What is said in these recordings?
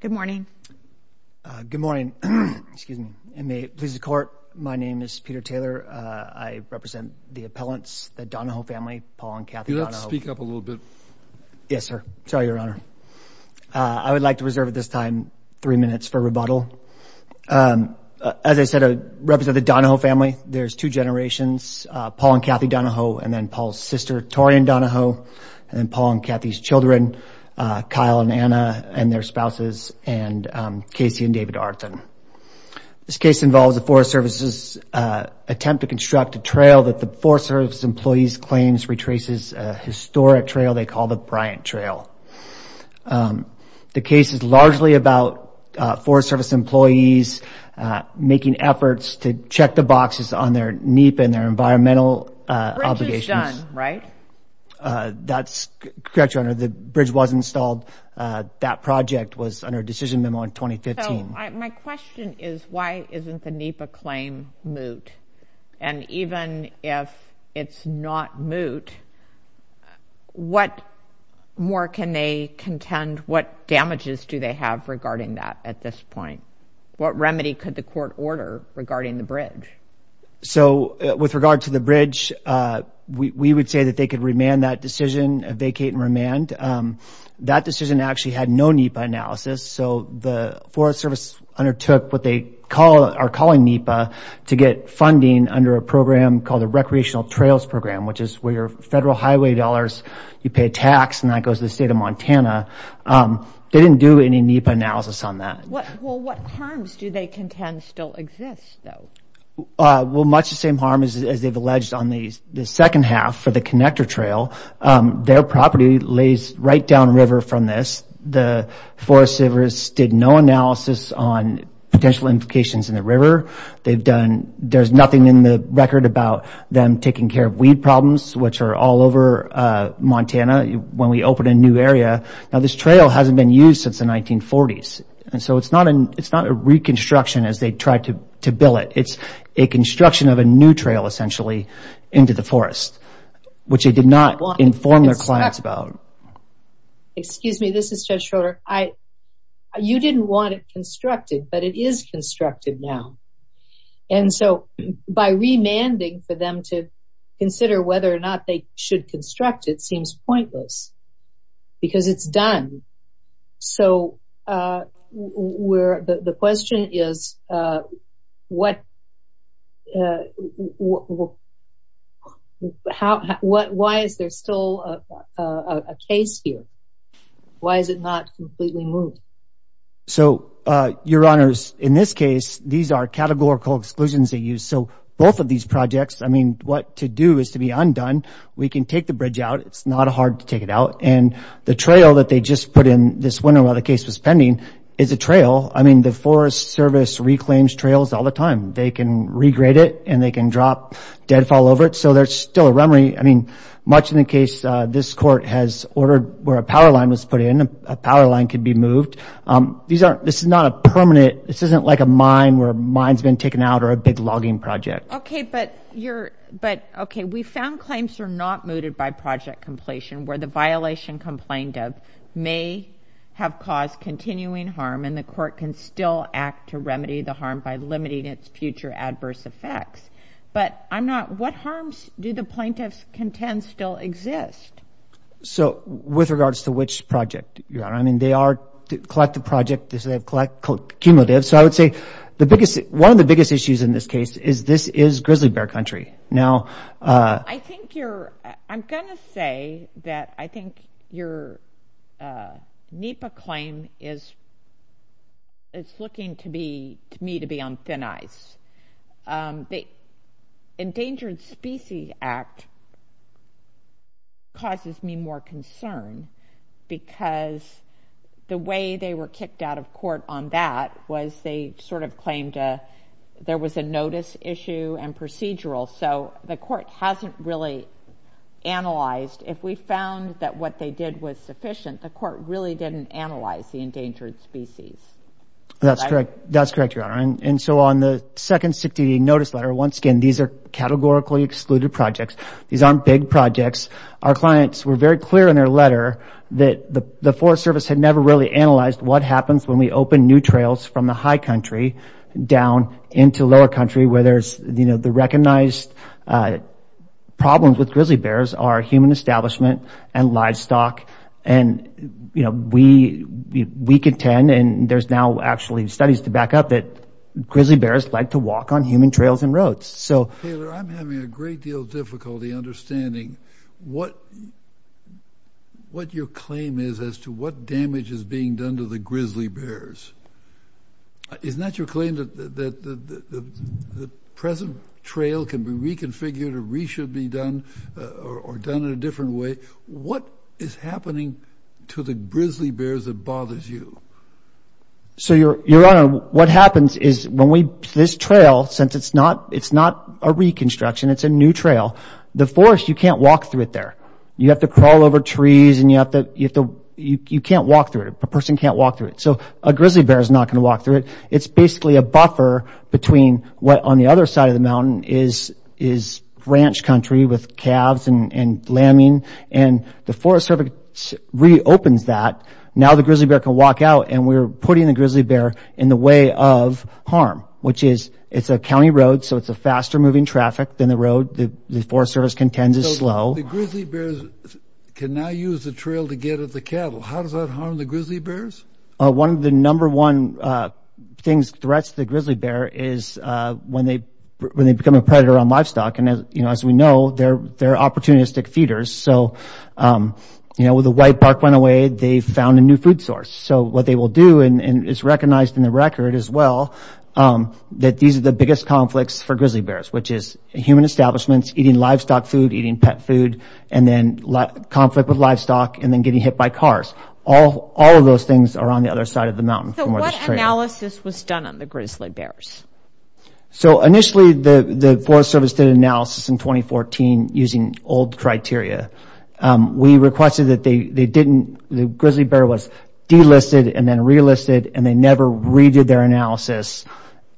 Good morning. Good morning. Excuse me. And may it please the court. My name is Peter Taylor. I represent the appellants, the Donohoe family, Paul and Kathy. Can you speak up a little bit? Yes, sir. Sorry, Your Honor. I would like to reserve at this time three minutes for rebuttal. As I said, I represent the Donohoe family. There's two generations, Paul and Kathy Donohoe, and then Paul's sister, Torian Donohoe, and then Paul and Kathy's children, Kyle and Anna, and their spouses, and Casey and David Arntzen. This case involves a Forest Service's attempt to construct a trail that the Forest Service employees claims retraces a historic trail they call the Bryant Trail. The case is largely about Forest Service employees making efforts to check the boxes on their NEPA and their environmental obligations. Right? That's correct, Your Honor. The bridge was installed. That project was under a decision memo in 2015. My question is, why isn't the NEPA claim moot? And even if it's not moot, what more can they contend? What damages do they have regarding that at this point? What remedy could the court order regarding the bridge? So, with regard to the bridge, we would say that they could remand that decision, vacate and remand. That decision actually had no NEPA analysis, so the Forest Service undertook what they are calling NEPA to get funding under a program called the Recreational Trails Program, which is where your federal highway dollars, you pay tax, and that goes to the state of Montana. They didn't do any NEPA analysis on that. Well, what harms do they contend still exist, though? Well, much the same harm as they've alleged on the second half for the connector trail. Their property lays right down river from this. The Forest Service did no analysis on potential implications in the river. They've done, there's nothing in the record about them taking care of weed problems, which are all over Montana when we open a new area. Now, this trail hasn't been used since the 1940s, and so it's not a reconstruction as they try to build it. It's a construction of a new trail, essentially, into the forest, which they did not inform their clients about. Excuse me, this is Judge Schroeder. You didn't want it constructed, but it is constructed now. And so, by remanding for them to consider whether or not they should construct it seems pointless, because it's done. So, the question is, why is there still a case here? Why is it not completely moved? So, Your Honors, in this case, these are categorical exclusions they use. So, both of these projects, I mean, what to do is to be undone. We can take the bridge out. It's not in this window while the case was pending. It's a trail. I mean, the Forest Service reclaims trails all the time. They can regrade it and they can drop deadfall over it. So, there's still a rummary. I mean, much in the case, this court has ordered where a power line was put in. A power line could be moved. These aren't, this is not a permanent, this isn't like a mine where a mine's been taken out or a big logging project. Okay, but you're, but okay, we found claims are not mooted by project completion where the violation complained of may have caused continuing harm and the court can still act to remedy the harm by limiting its future adverse effects. But, I'm not, what harms do the plaintiffs contend still exist? So, with regards to which project, Your Honor, I mean, they are collective project. This is a collective cumulative. So, I would say the biggest, one of the biggest issues in this case is this is grizzly bear country. Now, I think you're, I'm gonna say that I think your NEPA claim is, it's looking to be, to me, to be on thin ice. The Endangered Species Act causes me more concern because the way they were kicked out of court on that was they sort of claimed there was a notice issue and procedural. So, the court hasn't really analyzed. If we found that what they did was sufficient, the court really didn't analyze the endangered species. That's correct. That's correct, Your Honor. And so, on the second 60 notice letter, once again, these are categorically excluded projects. These aren't big projects. Our clients were very clear in their letter that the Forest Service had never really analyzed what happens when we open new trails from the high country down into lower country where there's, you know, the recognized problems with grizzly bears are human establishment and livestock and, you know, we contend, and there's now actually studies to back up it, grizzly bears like to walk on human trails and roads. So, Taylor, I'm having a great deal of difficulty understanding what your claim is as to what damage is being done to the grizzly bears. Isn't that your claim that the present trail can be reconfigured or re-should be done or done in a different way? What is happening to the grizzly bears that bothers you? So, Your Honor, what happens is when we, this trail, since it's not a reconstruction, it's a new trail, the forest, you can't walk through it there. You have to crawl over trees and you have to, you can't walk through it. A person can't walk through it. So, a grizzly bear is not going to walk through it. It's basically a buffer between what on the other side of the mountain is ranch country with calves and lambing and the Forest Service reopens that. Now the grizzly bear can walk out and we're putting the grizzly bear in the way of harm, which is, it's a county road, so it's a faster moving traffic than the road. The Forest Service contends is slow. The grizzly bears can now use the trail to get at the cattle. How does that harm the grizzly bears? One of the number one things, threats to the grizzly bear is when they become a predator on livestock and as you know, as we know, they're opportunistic feeders. So, you know, with the white bark went away, they found a new food source. So, what they will do and it's recognized in the record as well, that these are the biggest conflicts for grizzly bears, which is human establishments, eating livestock food, eating pet food and then conflict with livestock and then getting hit by cars. All of those things are on the other side of the mountain. So, what analysis was done on the grizzly bears? So, initially the Forest Service did analysis in 2014 using old criteria. We requested that they didn't, the grizzly bear was delisted and then relisted and they never redid their analysis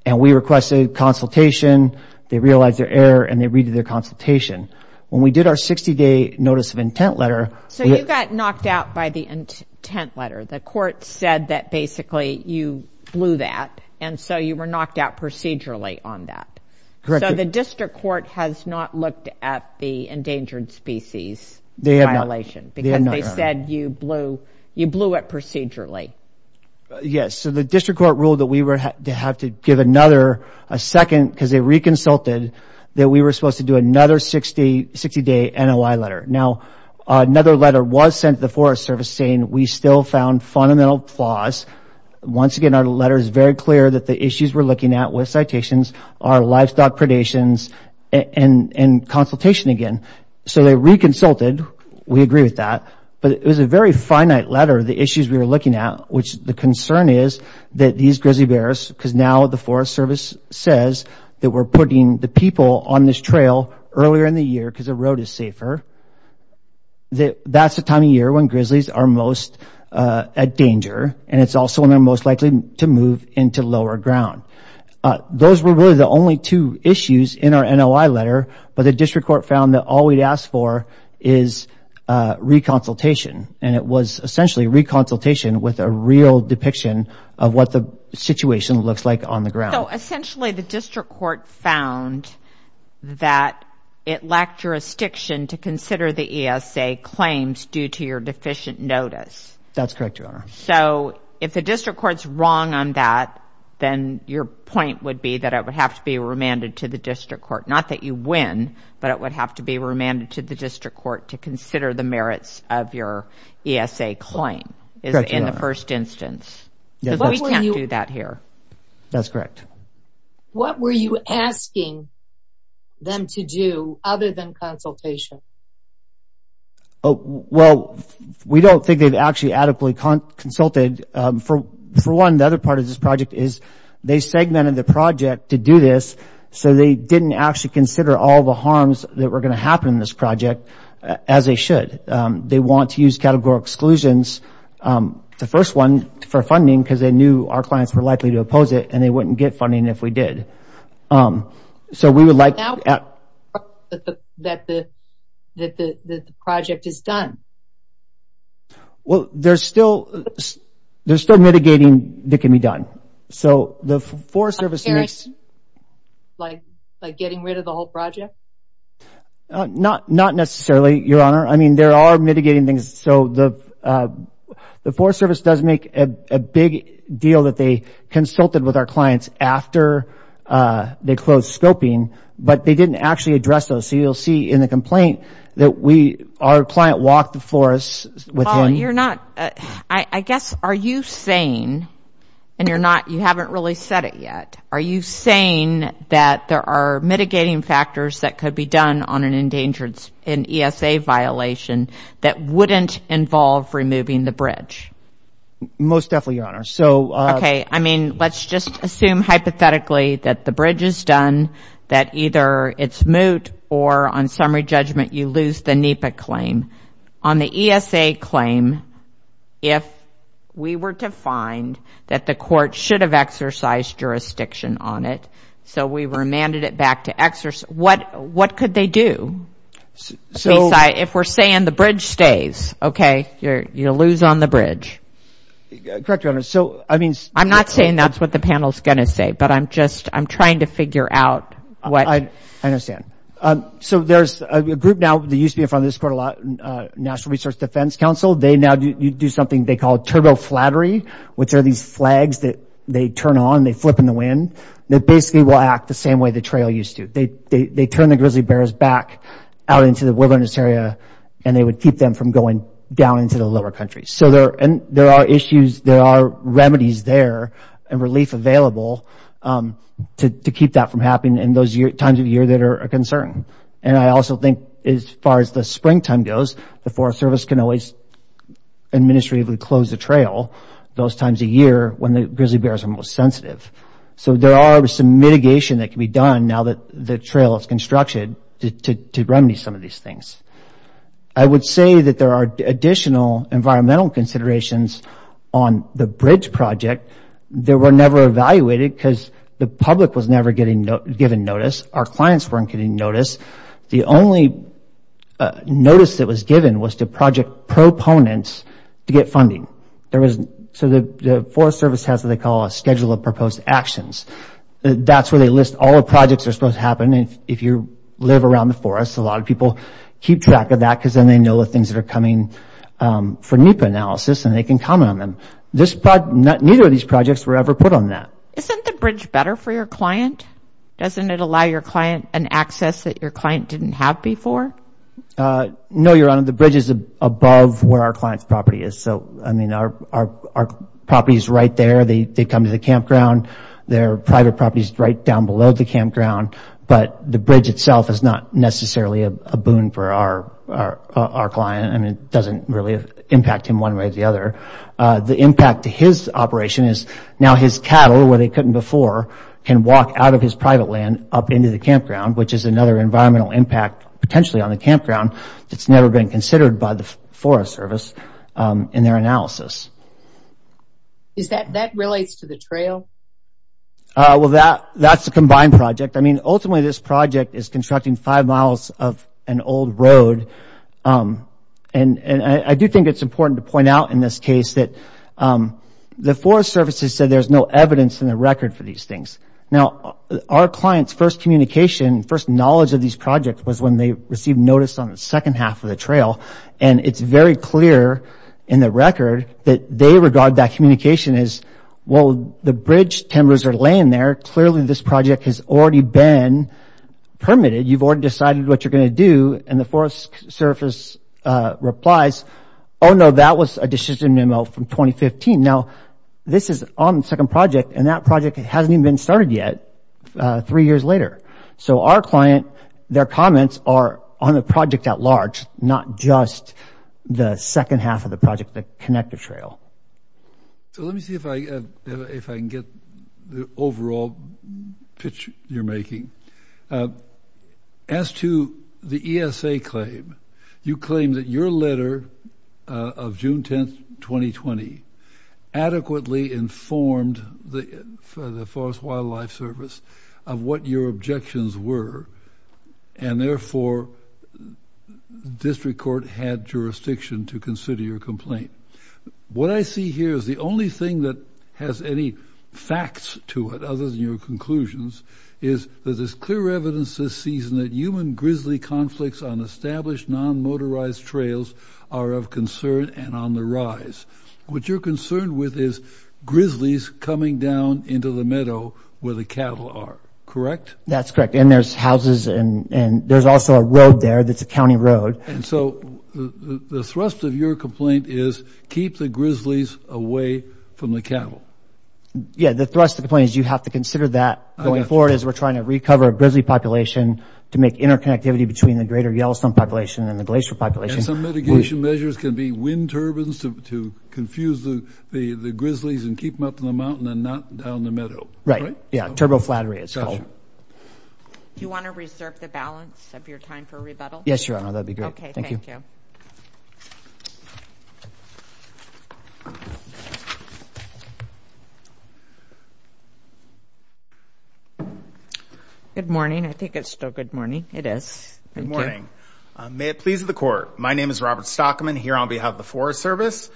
and we requested consultation, they realized their error and they redid their consultation. When we did our 60-day notice of intent letter. So, you got knocked out by the intent letter. The court said that basically you blew that and so you were knocked out procedurally on that. Correct. So, the district court has not looked at the Yes, so the district court ruled that we were to have to give another a second because they reconsulted that we were supposed to do another 60-day NOI letter. Now, another letter was sent to the Forest Service saying we still found fundamental flaws. Once again, our letter is very clear that the issues we're looking at with citations are livestock predations and consultation again. So, they reconsulted, we agree with that, but it was a very finite letter, the issues we were looking at which the concern is that these grizzly bears because now the Forest Service says that we're putting the people on this trail earlier in the year because the road is safer that that's the time of year when grizzlies are most at danger and it's also when they're most likely to move into lower ground. Those were really the only two issues in our NOI letter, but the district court found that all we'd asked for is reconsultation and it was essentially reconsultation with a real depiction of what the situation looks like on the ground. So, essentially the district court found that it lacked jurisdiction to consider the ESA claims due to your deficient notice. That's correct, Your Honor. So, if the district court's wrong on that, then your point would be that it would have to be remanded to the district court, not that you win, but it would have to be remanded to the district court to consider the merits of your ESA claim in the first instance. We can't do that here. That's correct. What were you asking them to do other than consultation? Oh, well, we don't think they've actually adequately consulted. For one, the other part of this project is they segmented the project to do this so they didn't actually consider all the harms that were going to happen in this project as they should. They want to use categorical exclusions. The first one for funding because they knew our clients were likely to oppose it and they wouldn't get funding if we did. So, we would like that the project is done. Well, there's still mitigating that can be done. So, the Forest Service... Like getting rid of the whole project? Not necessarily, Your Honor. I mean, there are mitigating things. So, the Forest Service does make a big deal that they consulted with our clients after they closed scoping, but they didn't actually address those. So, you'll see in the complaint that our client walked before us with... Paul, you're not... I guess, are you saying, and you're not... You haven't really said it yet. Are you saying that there are mitigating factors that could be done on an endangerance in ESA violation that wouldn't involve removing the bridge? Most definitely, Your Honor. So... Okay. I mean, let's just assume hypothetically that the judgment you lose the NEPA claim. On the ESA claim, if we were to find that the court should have exercised jurisdiction on it, so we remanded it back to exercise... What could they do? So... If we're saying the bridge stays, okay, you'll lose on the bridge. Correct, Your Honor. So, I mean... I'm not saying that's what the panel is going to say, but I'm trying to figure out what... I understand. So, there's a group now, that used to be in front of the National Research Defense Council. They now do something they call turbo flattery, which are these flags that they turn on, they flip in the wind, that basically will act the same way the trail used to. They turn the grizzly bears back out into the wilderness area, and they would keep them from going down into the lower countries. So, there are issues, there are remedies there and relief available to keep that from happening in those times of the year that are a concern. And I also think as far as the springtime goes, the Forest Service can always administratively close the trail those times a year when the grizzly bears are most sensitive. So, there are some mitigation that can be done now that the trail is constructed to remedy some of these things. I would say that there are additional environmental considerations on the bridge project that were never evaluated because the public was never given notice, our clients weren't getting notice. The only notice that was given was to project proponents to get funding. So, the Forest Service has what they call a schedule of proposed actions. That's where they list all the projects that are supposed to happen. If you live around the forest, a lot of people keep track of that because then they know the things that are coming for NEPA analysis and they can comment on them. Neither of these projects were ever put on that. Isn't the bridge better for your client? Doesn't it allow your client an access that your client didn't have before? No, Your Honor, the bridge is above where our client's property is. So, I mean, our property is right there, they come to the campground, their private property is right down below the campground, but the bridge itself is not necessarily a boon for our client. I mean, doesn't really impact him one way or the other. The impact to his operation is now his cattle, where they couldn't before, can walk out of his private land up into the campground, which is another environmental impact potentially on the campground that's never been considered by the Forest Service in their analysis. That relates to the trail? Well, that's a combined project. I mean, ultimately, this project is constructing five miles of an old road. And I do think it's important to point out in this case that the Forest Service has said there's no evidence in the record for these things. Now, our client's first communication, first knowledge of these projects was when they received notice on the second half of the trail. And it's very clear in the record that they regard that communication as, well, the bridge timbers are laying there, clearly this project has already been permitted. You've already decided what you're going to do. And the Forest Service replies, oh, no, that was a decision memo from 2015. Now, this is on the second project, and that project hasn't even been started yet, three years later. So our client, their comments are on the project at large, not just the second half of the project, the connector trail. So let me see if I can get the overall pitch you're making. As to the ESA claim, you claim that your letter of June 10, 2020 adequately informed the Forest Wildlife Service of what your objections were. And therefore, district court had jurisdiction to consider your complaint. What I see here is the only thing that has any facts to it, other than your conclusions, is that there's clear evidence this season that human grizzly conflicts on established non-motorized trails are of concern and on the rise. What you're concerned with is grizzlies coming down into the meadow where the cattle are, correct? That's correct. And there's houses, and so the thrust of your complaint is keep the grizzlies away from the cattle. Yeah, the thrust of the point is you have to consider that going forward as we're trying to recover a grizzly population to make interconnectivity between the greater Yellowstone population and the Glacier population. And some mitigation measures can be wind turbines to confuse the grizzlies and keep them up in the mountain and not down the meadow. Right, yeah, turbo flattery, it's called. Do you want to reserve the balance of your time for rebuttal? Yes, Your Honor, that'd be great. Good morning. I think it's still good morning. It is. Good morning. May it please the court. My name is Robert Stockman, here on behalf of the Forest Service.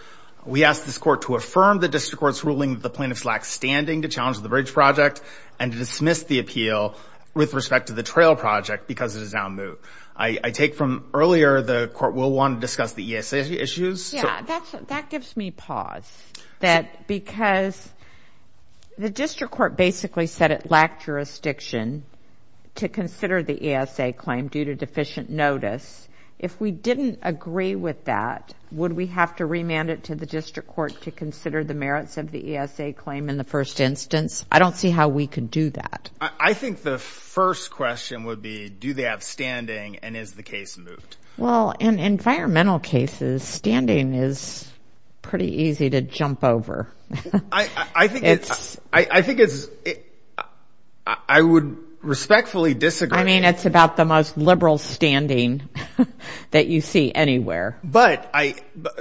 We ask this court to affirm the district court's ruling that the plaintiffs lack standing to challenge the bridge project and to dismiss the appeal with respect to the trail project because it is now moot. I take from earlier, the court will want to discuss the ESA issues. Yeah, that gives me pause. Because the district court basically said it lacked jurisdiction to consider the ESA claim due to deficient notice. If we didn't agree with that, would we have to remand it to the district court to consider the merits of the ESA claim in the first instance? I don't see how we could do that. I think the first question would be, do they have standing and is the case moot? Well, in environmental cases, standing is pretty easy to jump over. I think it's, I think it's, I would respectfully disagree. I mean, it's about the most liberal standing that you see anywhere. But I,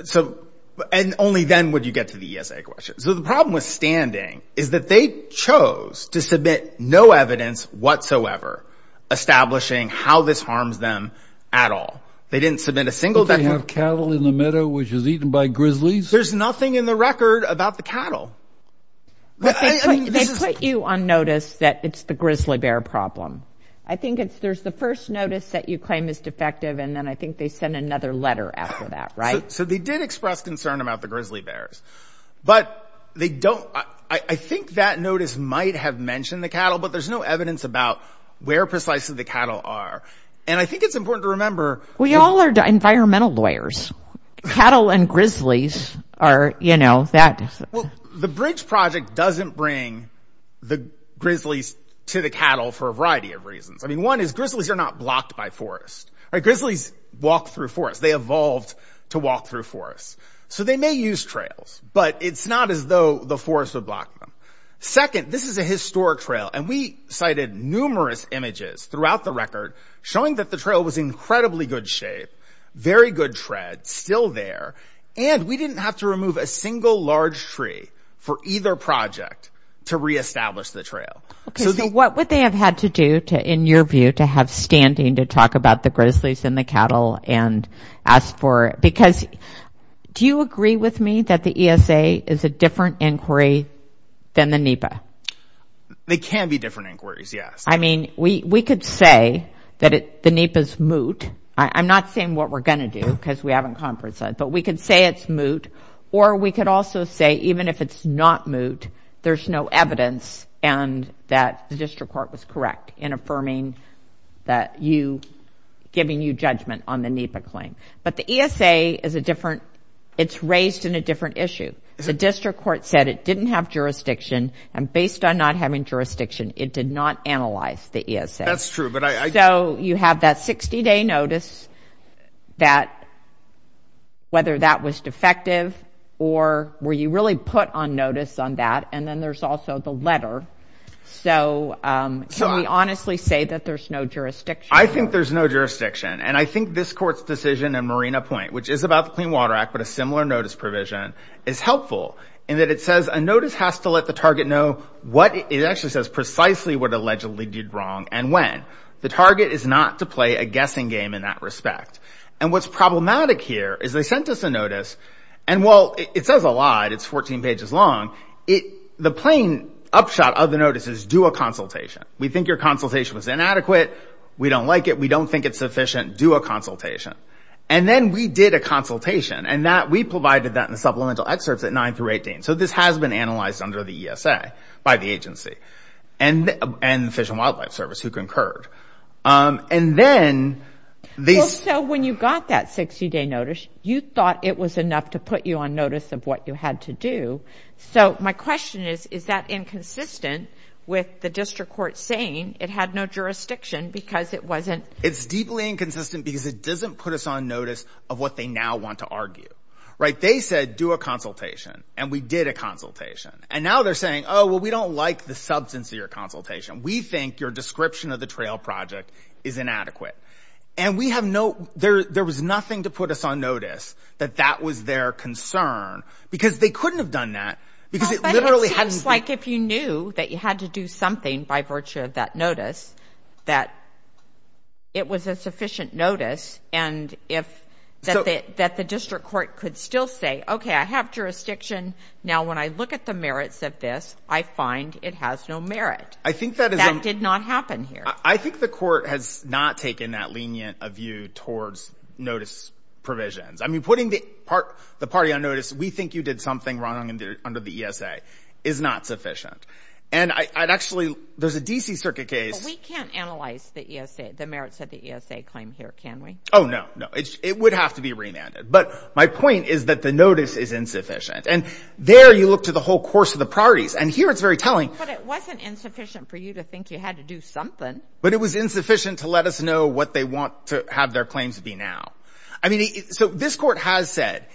so and only then would you get to the ESA question. So the problem with standing is that they chose to submit no evidence whatsoever establishing how this harms them at all. They didn't submit a single thing. They have cattle in the meadow which is eaten by grizzlies. There's nothing in the record about the cattle. They put you on notice that it's the claim is defective and then I think they send another letter after that, right? So they did express concern about the grizzly bears, but they don't, I think that notice might have mentioned the cattle, but there's no evidence about where precisely the cattle are. And I think it's important to remember. We all are environmental lawyers. Cattle and grizzlies are, you know, that. The bridge project doesn't bring the grizzlies to the cattle for a variety of reasons. I mean, one is grizzlies are not blocked by forest, right? Grizzlies walk through forests. They evolved to walk through forests. So they may use trails, but it's not as though the forest would block them. Second, this is a historic trail and we cited numerous images throughout the record showing that the trail was incredibly good shape, very good tread, still there. And we didn't have to remove a single large tree for either project to re-establish the trail. Okay, so what would they have had to do to, in your view, to have standing to talk about the grizzlies and the cattle and ask for, because do you agree with me that the ESA is a different inquiry than the NEPA? They can be different inquiries, yes. I mean, we could say that the NEPA's moot. I'm not saying what we're going to do because we haven't conferenced that, but we could say it's moot, or we could also say even if it's not moot, there's no evidence and that the district court was correct in affirming that you, giving you judgment on the NEPA claim. But the ESA is a different, it's raised in a different issue. The district court said it didn't have jurisdiction and based on not having jurisdiction, it did not analyze the ESA. That's true, but I. So you have that 60 day notice that, whether that was defective or were you really put on notice on that? And then there's also the letter. So can we honestly say that there's no jurisdiction? I think there's no jurisdiction. And I think this court's decision in Marina Point, which is about the Clean Water Act, but a similar notice provision, is helpful in that it says a notice has to let the target know what it actually says precisely what allegedly did wrong and when. The target is not to play a guessing game in that respect. And what's problematic here is they sent us a notice, and while it says a lot, it's 14 pages long, it, the plain upshot of the notice is do a consultation. We think your consultation was inadequate. We don't like it. We don't think it's sufficient. Do a consultation. And then we did a consultation and that we provided that in the supplemental excerpts at nine through 18. So this has been analyzed under the ESA by the agency and the Fish and Wildlife Service who concurred. And then these... So when you got that 60-day notice, you thought it was enough to put you on notice of what you had to do. So my question is, is that inconsistent with the district court saying it had no jurisdiction because it wasn't... It's deeply inconsistent because it doesn't put us on notice of what they now want to argue, right? They said do a consultation and we did a consultation. And now they're saying, oh, well, we don't like the substance of your consultation. We think your description of the trail project is inadequate. And we have no, there was nothing to put us on notice that that was their concern because they couldn't have done that because it literally hadn't... It seems like if you knew that you had to do something by virtue of that notice, that it was a sufficient notice and if that the district court could still say, okay, I have jurisdiction. Now, when I look at the merits of this, I find it has no merit. I think that is... That did not happen here. I think the court has not taken that lenient of you towards notice provisions. I mean, putting the party on notice, we think you did something wrong under the ESA is not sufficient. And I'd actually, there's a DC Circuit case... We can't analyze the ESA, the merits of the ESA claim here, can we? Oh, no, no. It would have to be remanded. But my point is that the notice is insufficient. And there you look to the whole course of the parties and here it's very telling. But it wasn't insufficient for you to think you had to do something. But it was insufficient to let us know what they want to have their claims to be now. I mean, so this court has said,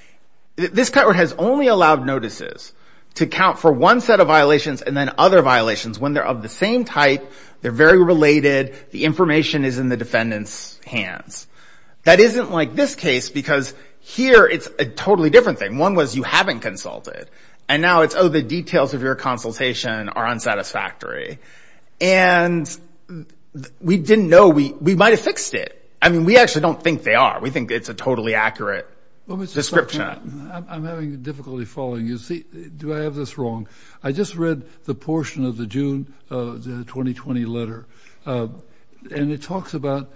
this court has only allowed notices to count for one set of violations and then other violations when they're of the same type, they're very related, the information is in the defendant's hands. That isn't like this case because here it's a totally different thing. One was you haven't consulted. And now it's, oh, the details of your consultation are unsatisfactory. And we didn't know we might have fixed it. I mean, we actually don't think they are. We think it's a totally accurate description. I'm having difficulty following you. Do I have this wrong? I just read the portion of the June 2020 letter. And it talks about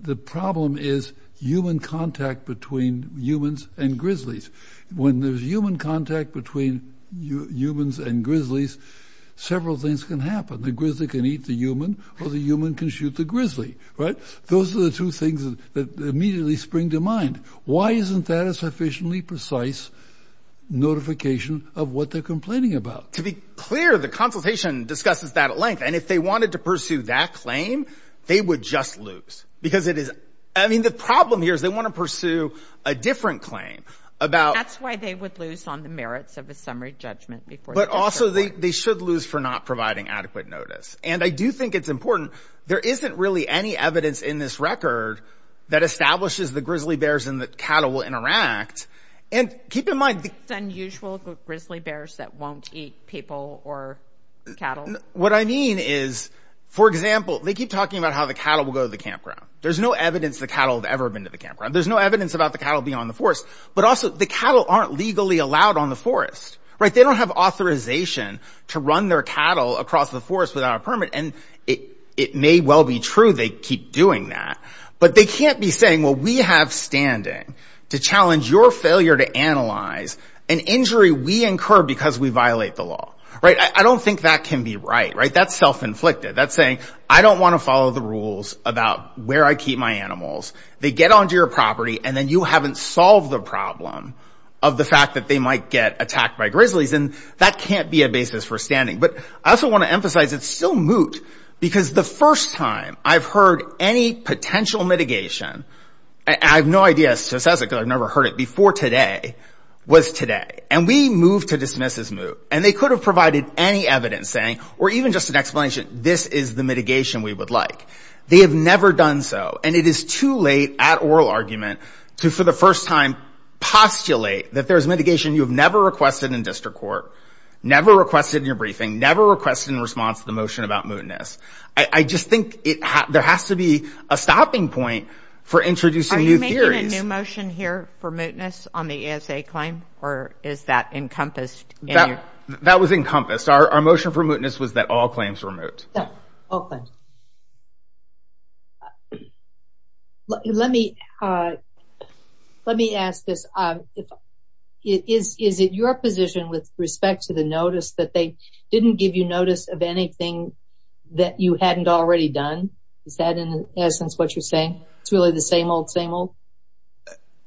the problem is human contact between humans and grizzlies. When there's human contact between humans and grizzlies, several things can happen. The grizzly can eat the human or the human can shoot the grizzly, right? Those are the two things that immediately spring to mind. Why isn't that a sufficiently precise notification of what they're complaining about? To be clear, the consultation discusses that at length. And if they wanted to pursue that claim, they would just lose because it is, I mean, the problem here is they want to pursue a different claim. That's why they would lose on the merits of a summary judgment. But also they should lose for not providing adequate notice. And I do think it's important. There isn't really any evidence in this record that establishes the grizzly bears and the cattle will interact. And keep in mind. It's unusual grizzly bears that won't eat people or cattle. What I mean is, for example, they keep talking about how the cattle will go to the campground. There's no evidence the cattle have ever been to the campground. There's no evidence about the cattle being on the forest. But also the cattle aren't legally allowed on the forest, right? They don't have authorization to run their cattle across the forest without a permit. And it may well be true they keep doing that. But they can't be saying, well, we have standing. To challenge your failure to analyze an injury we incur because we violate the law. Right? I don't think that can be right. Right? That's self-inflicted. That's saying, I don't want to follow the rules about where I keep my animals. They get onto your property, and then you haven't solved the problem of the fact that they might get attacked by grizzlies. And that can't be a basis for standing. But I also want to emphasize it's still moot. Because the first time I've heard any potential mitigation, I have no idea as to who says it, because I've never heard it before today, was today. And we moved to dismiss as moot. And they could have provided any evidence saying, or even just an explanation, this is the mitigation we would like. They have never done so. And it is too late at oral argument to, for the first time, postulate that there is mitigation you have never requested in district court, never requested in your briefing, never requested in response to the motion about mootness. I just think there has to be a stopping point for introducing new theories. Are you making a new motion here for mootness on the ASA claim? Or is that encompassed? That was encompassed. Our motion for mootness was that all claims were moot. All claims. Let me ask this. Is it your position with respect to the notice that they didn't give you notice of anything that you hadn't already done? Is that in essence what you're saying? It's really the same old, same old?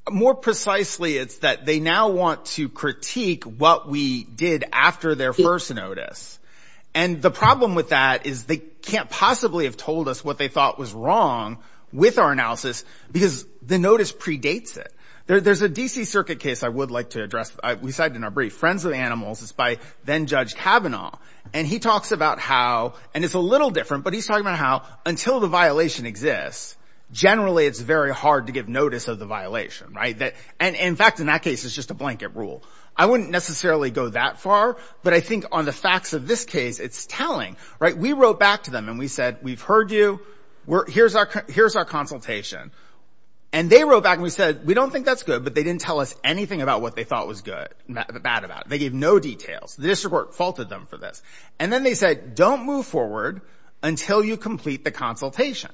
More precisely, it's that they now want to critique what we did after their first notice. And the problem with that is they can't possibly have told us what they thought was wrong with our analysis, because the notice predates it. There's a D.C. circuit case I would like to address. We cited in our brief. Friends of the Animals. It's by then-Judge Kavanaugh. And he talks about how, and it's a little different, but he's talking about how until the violation exists, generally it's very hard to give notice of the violation, right? And in fact, in that case, it's just a blanket rule. I wouldn't necessarily go that far. But I think on the facts of this case, it's telling, right? We wrote back to them and we said, we've heard you. Here's our consultation. And they wrote back and we said, we don't think that's good, but they didn't tell us anything about what they thought was good, bad about it. They gave no details. The district court faulted them for this. And then they said, don't move forward until you complete the consultation.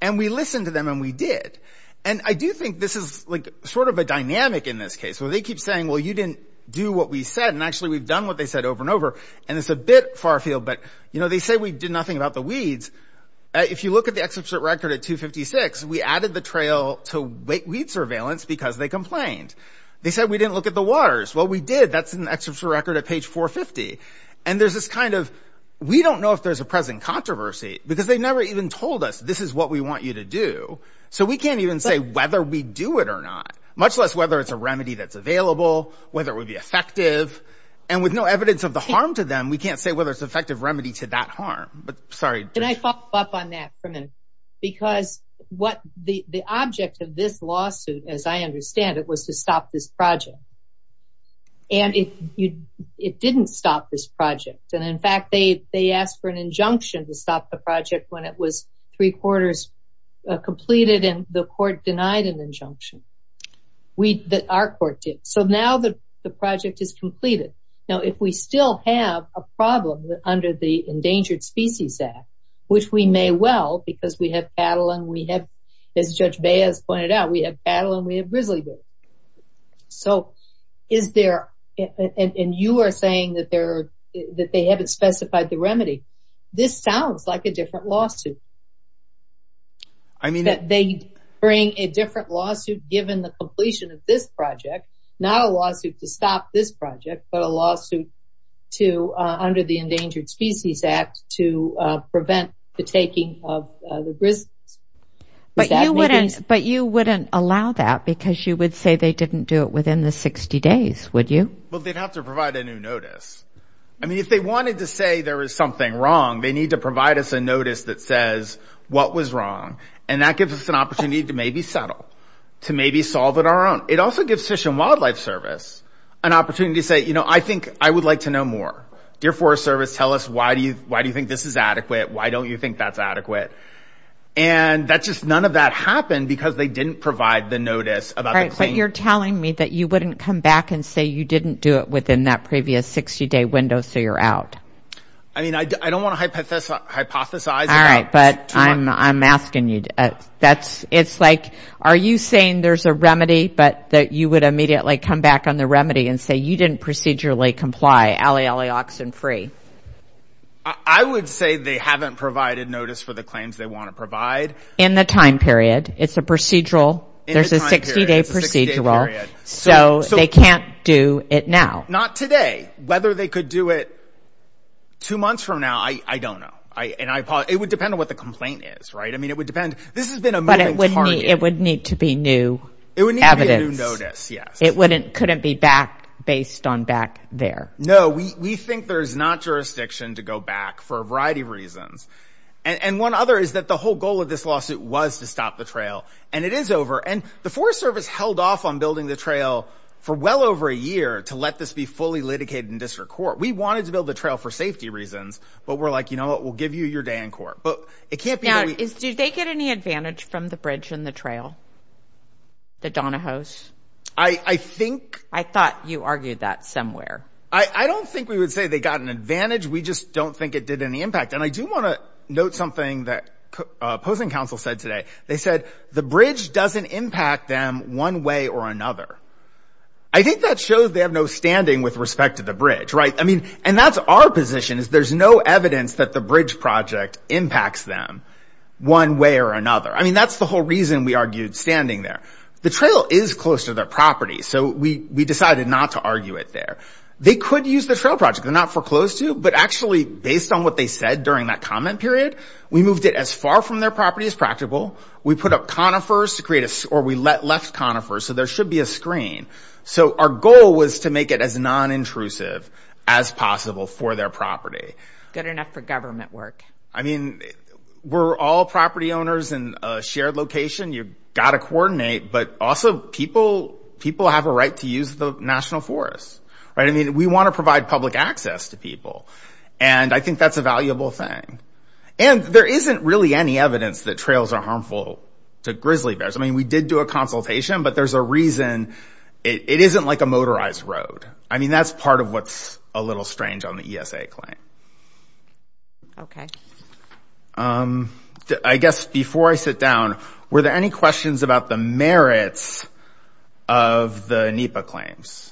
And we listened to them and we did. And I do think this is sort of a dynamic in this case, where they keep saying, well, you didn't do what we said. And actually we've done what they said over and over. And it's a bit far field, but you know, they say we did nothing about the weeds. If you look at the excerpt record at 256, we added the trail to weight weed surveillance because they complained. They said, we didn't look at the waters. Well, we did. That's an excerpt record at page 450. And there's this kind of, we don't know if there's a present controversy because they've never even told us this is what we want you to do. So we can't even say whether we do it or not, much less whether it's a remedy that's available, whether it would be effective. And with no evidence of the harm to them, we can't say whether it's effective remedy to that harm, but sorry. Can I follow up on that for a minute? Because the object of this lawsuit, as I understand it, was to stop this project. And it didn't stop this project. And in fact, they asked for an injunction to stop the project when it was three quarters completed and the our court did. So now the project is completed. Now, if we still have a problem under the Endangered Species Act, which we may well, because we have cattle and we have, as Judge Baez pointed out, we have cattle and we have grizzly bears. So is there, and you are saying that they haven't specified the remedy. This sounds like a different lawsuit. I mean, that they bring a different lawsuit given the completion of this project, not a lawsuit to stop this project, but a lawsuit to under the Endangered Species Act to prevent the taking of the grizzlies. But you wouldn't allow that because you would say they didn't do it within the 60 days, would you? Well, they'd have to provide a new notice. I mean, if they wanted to say there was something wrong, they need to provide us a notice that says what was wrong. And that gives us an opportunity to maybe settle, to maybe solve it on our own. It also gives Fish and Wildlife Service an opportunity to say, you know, I think I would like to know more. Deer Forest Service, tell us why do you, why do you think this is adequate? Why don't you think that's adequate? And that's just, none of that happened because they didn't provide the notice. But you're telling me that you wouldn't come back and say you didn't do it within that previous 60 day window, so you're out. I mean, I don't want to hypothesize. All right, but I'm, I'm asking you, that's, it's like, are you saying there's a remedy, but that you would immediately come back on the remedy and say you didn't procedurally comply, alley, alley, oxen free? I would say they haven't provided notice for the claims they want to provide. In the time period, it's a procedural, there's a 60 day procedural, so they can't do it now. Not today. Whether they could do it two months from now, I, I don't know. I, and I, it would depend on what the complaint is, right? I mean, it would depend, this has been a moving target. But it would need, it would need to be new evidence. It would need to be a new notice, yes. It wouldn't, couldn't be back, based on back there. No, we, we think there's not jurisdiction to go back for a variety of reasons. And one other is that the whole goal of this lawsuit was to stop the trail, and it is over. And the Forest Service held off on building the trail for well over a year to let this be fully litigated in district court. We wanted to build the trail for safety reasons, but we're like, you know what, we'll give you your day in court. But it can't be that we. Now, do they get any advantage from the bridge and the trail? The Donahos? I, I think. I thought you argued that somewhere. I, I don't think we would say they got an advantage. We just don't think it did any impact. And I do want to note something that opposing counsel said today. They said the bridge doesn't impact them one way or another. I think that shows they have no standing with respect to the bridge, right? I mean, and that's our position is there's no evidence that the bridge project impacts them one way or another. I mean, that's the whole reason we argued standing there. The trail is close to their property, so we, we decided not to argue it there. They could use the trail project. They're not foreclosed to, but actually, based on what they said during that comment period, we moved it as far from their property as practical. We put up conifers to create a, or we left conifers, so there should be a screen. So our goal was to make it as non-intrusive as possible for their property. Good enough for government work. I mean, we're all property owners in a shared location. You've got to coordinate, but also people, people have a right to use the national forest, right? I mean, we want to provide public access to people, and I think that's a valuable thing. And there isn't really any evidence that trails are harmful to grizzly bears. I mean, we did do a consultation, but there's a reason it isn't like a motorized road. I mean, that's part of what's a little strange on the ESA claim. Okay. I guess before I sit down, were there any questions about the merits of the NEPA claims?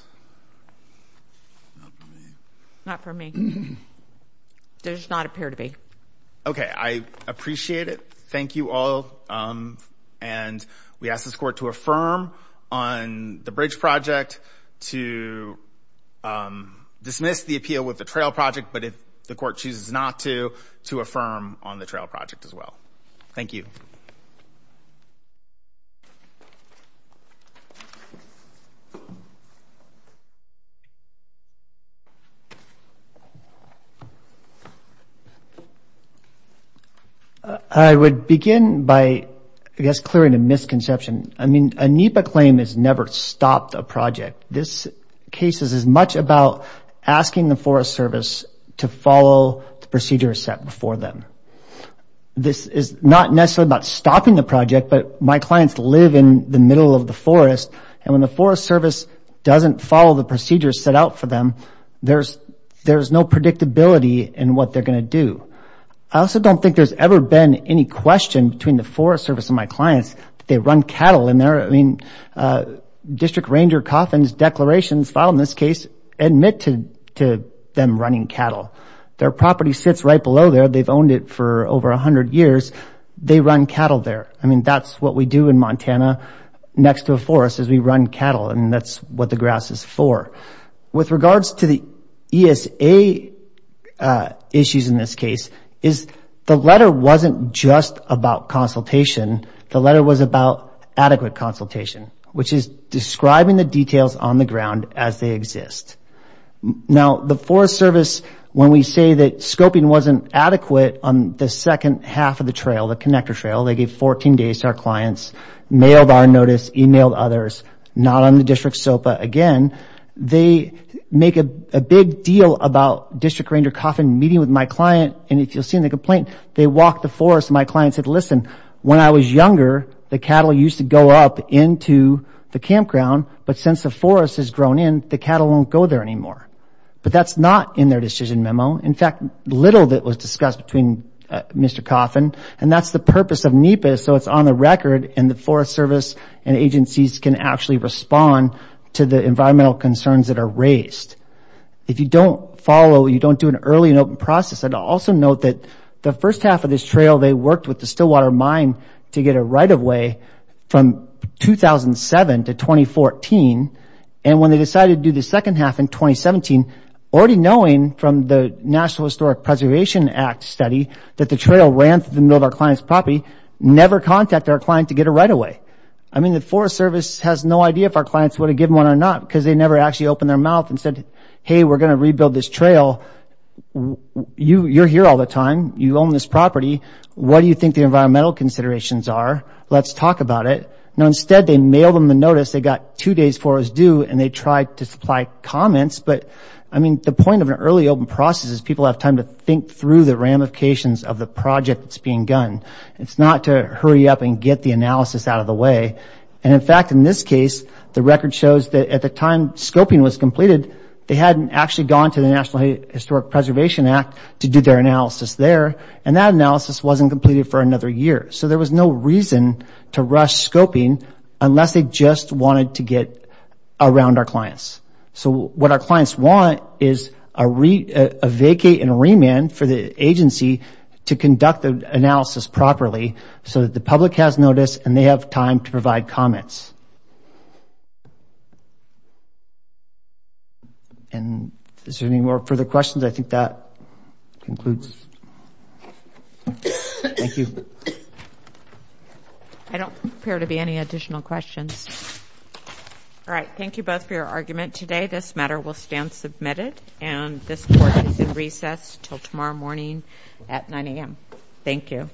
Not for me. There does not appear to be. Okay. I appreciate it. Thank you all. And we ask this court to affirm on the bridge project to dismiss the appeal with the trail project, but if the court chooses not to, to affirm on the trail project as well. Thank you. I would begin by, I guess, clearing a misconception. I mean, a NEPA claim has never stopped a project. This case is as much about asking the Forest Service to follow the procedures set before them. This is not necessarily about stopping the project, but my clients live in the middle of the forest and when the Forest Service doesn't follow the procedures set out for them, there's no predictability in what they're going to do. I also don't think there's ever been any question between the Forest Service and my clients that they run cattle in there. I mean, District Ranger Coffin's declarations filed in this case admit to them running cattle. Their property sits right below there. They've owned it for over a hundred years. They run cattle there. I mean, that's what we do in Montana next to a forest is we run cattle and that's what the grass is for. With regards to the ESA issues in this case, is the letter wasn't just about consultation. The letter was about adequate consultation, which is describing the details on the ground as they exist. Now, the Forest Service, when we say that scoping wasn't adequate on the second half of the trail, the connector trail, they gave 14 days to our clients, mailed our notice, emailed others, not on the District SOPA again. They make a big deal about District Ranger Coffin meeting with my client and if you'll see in the complaint, they walked the forest. My client said, listen, when I was younger, the cattle used to go up into the campground, but since the forest has grown in, the cattle won't go there anymore. But that's not in their decision memo. In fact, little of it was discussed between Mr. Coffin and that's the purpose of NEPA, so it's on the record and the Forest Service and agencies can actually respond to the environmental concerns that are raised. If you don't follow, you don't do an early and open process. I'd also note that the first half of this trail, they worked with the Stillwater Mine to get a right-of-way from 2007 to 2014 and when they decided to do the second half in 2017, already knowing from the National Historic Preservation Act study that the trail ran through the middle of our client's property, never contacted our client to get a right-of-way. I mean, the Forest Service has no idea if our clients would have given one or not because they never actually opened their mouth and said, hey, we're going to rebuild this trail. You're here all the time. You own this property. What do you think the environmental considerations are? Let's talk about it. Now instead, they mail them the notice. They got two days for us due and they tried to supply comments, but I mean, the point of an early open process is people have time to think through the ramifications of the project that's being done. It's not to hurry up and get the analysis out of the way. In fact, in this case, the record shows that at the time scoping was completed, they hadn't actually gone to the National Historic Preservation Act to do their analysis there and that analysis wasn't completed for another year. So there was no reason to rush scoping unless they just wanted to get around our clients. So what our clients want is a vacate and remand for the agency to conduct the analysis properly so that the public has notice and they have time to provide comments. And is there any more further questions? I think that concludes. Thank you. I don't appear to be any additional questions. All right. Thank you both for your argument today. This matter will stand submitted and this court is in recess till tomorrow morning at 9 a.m. Thank you.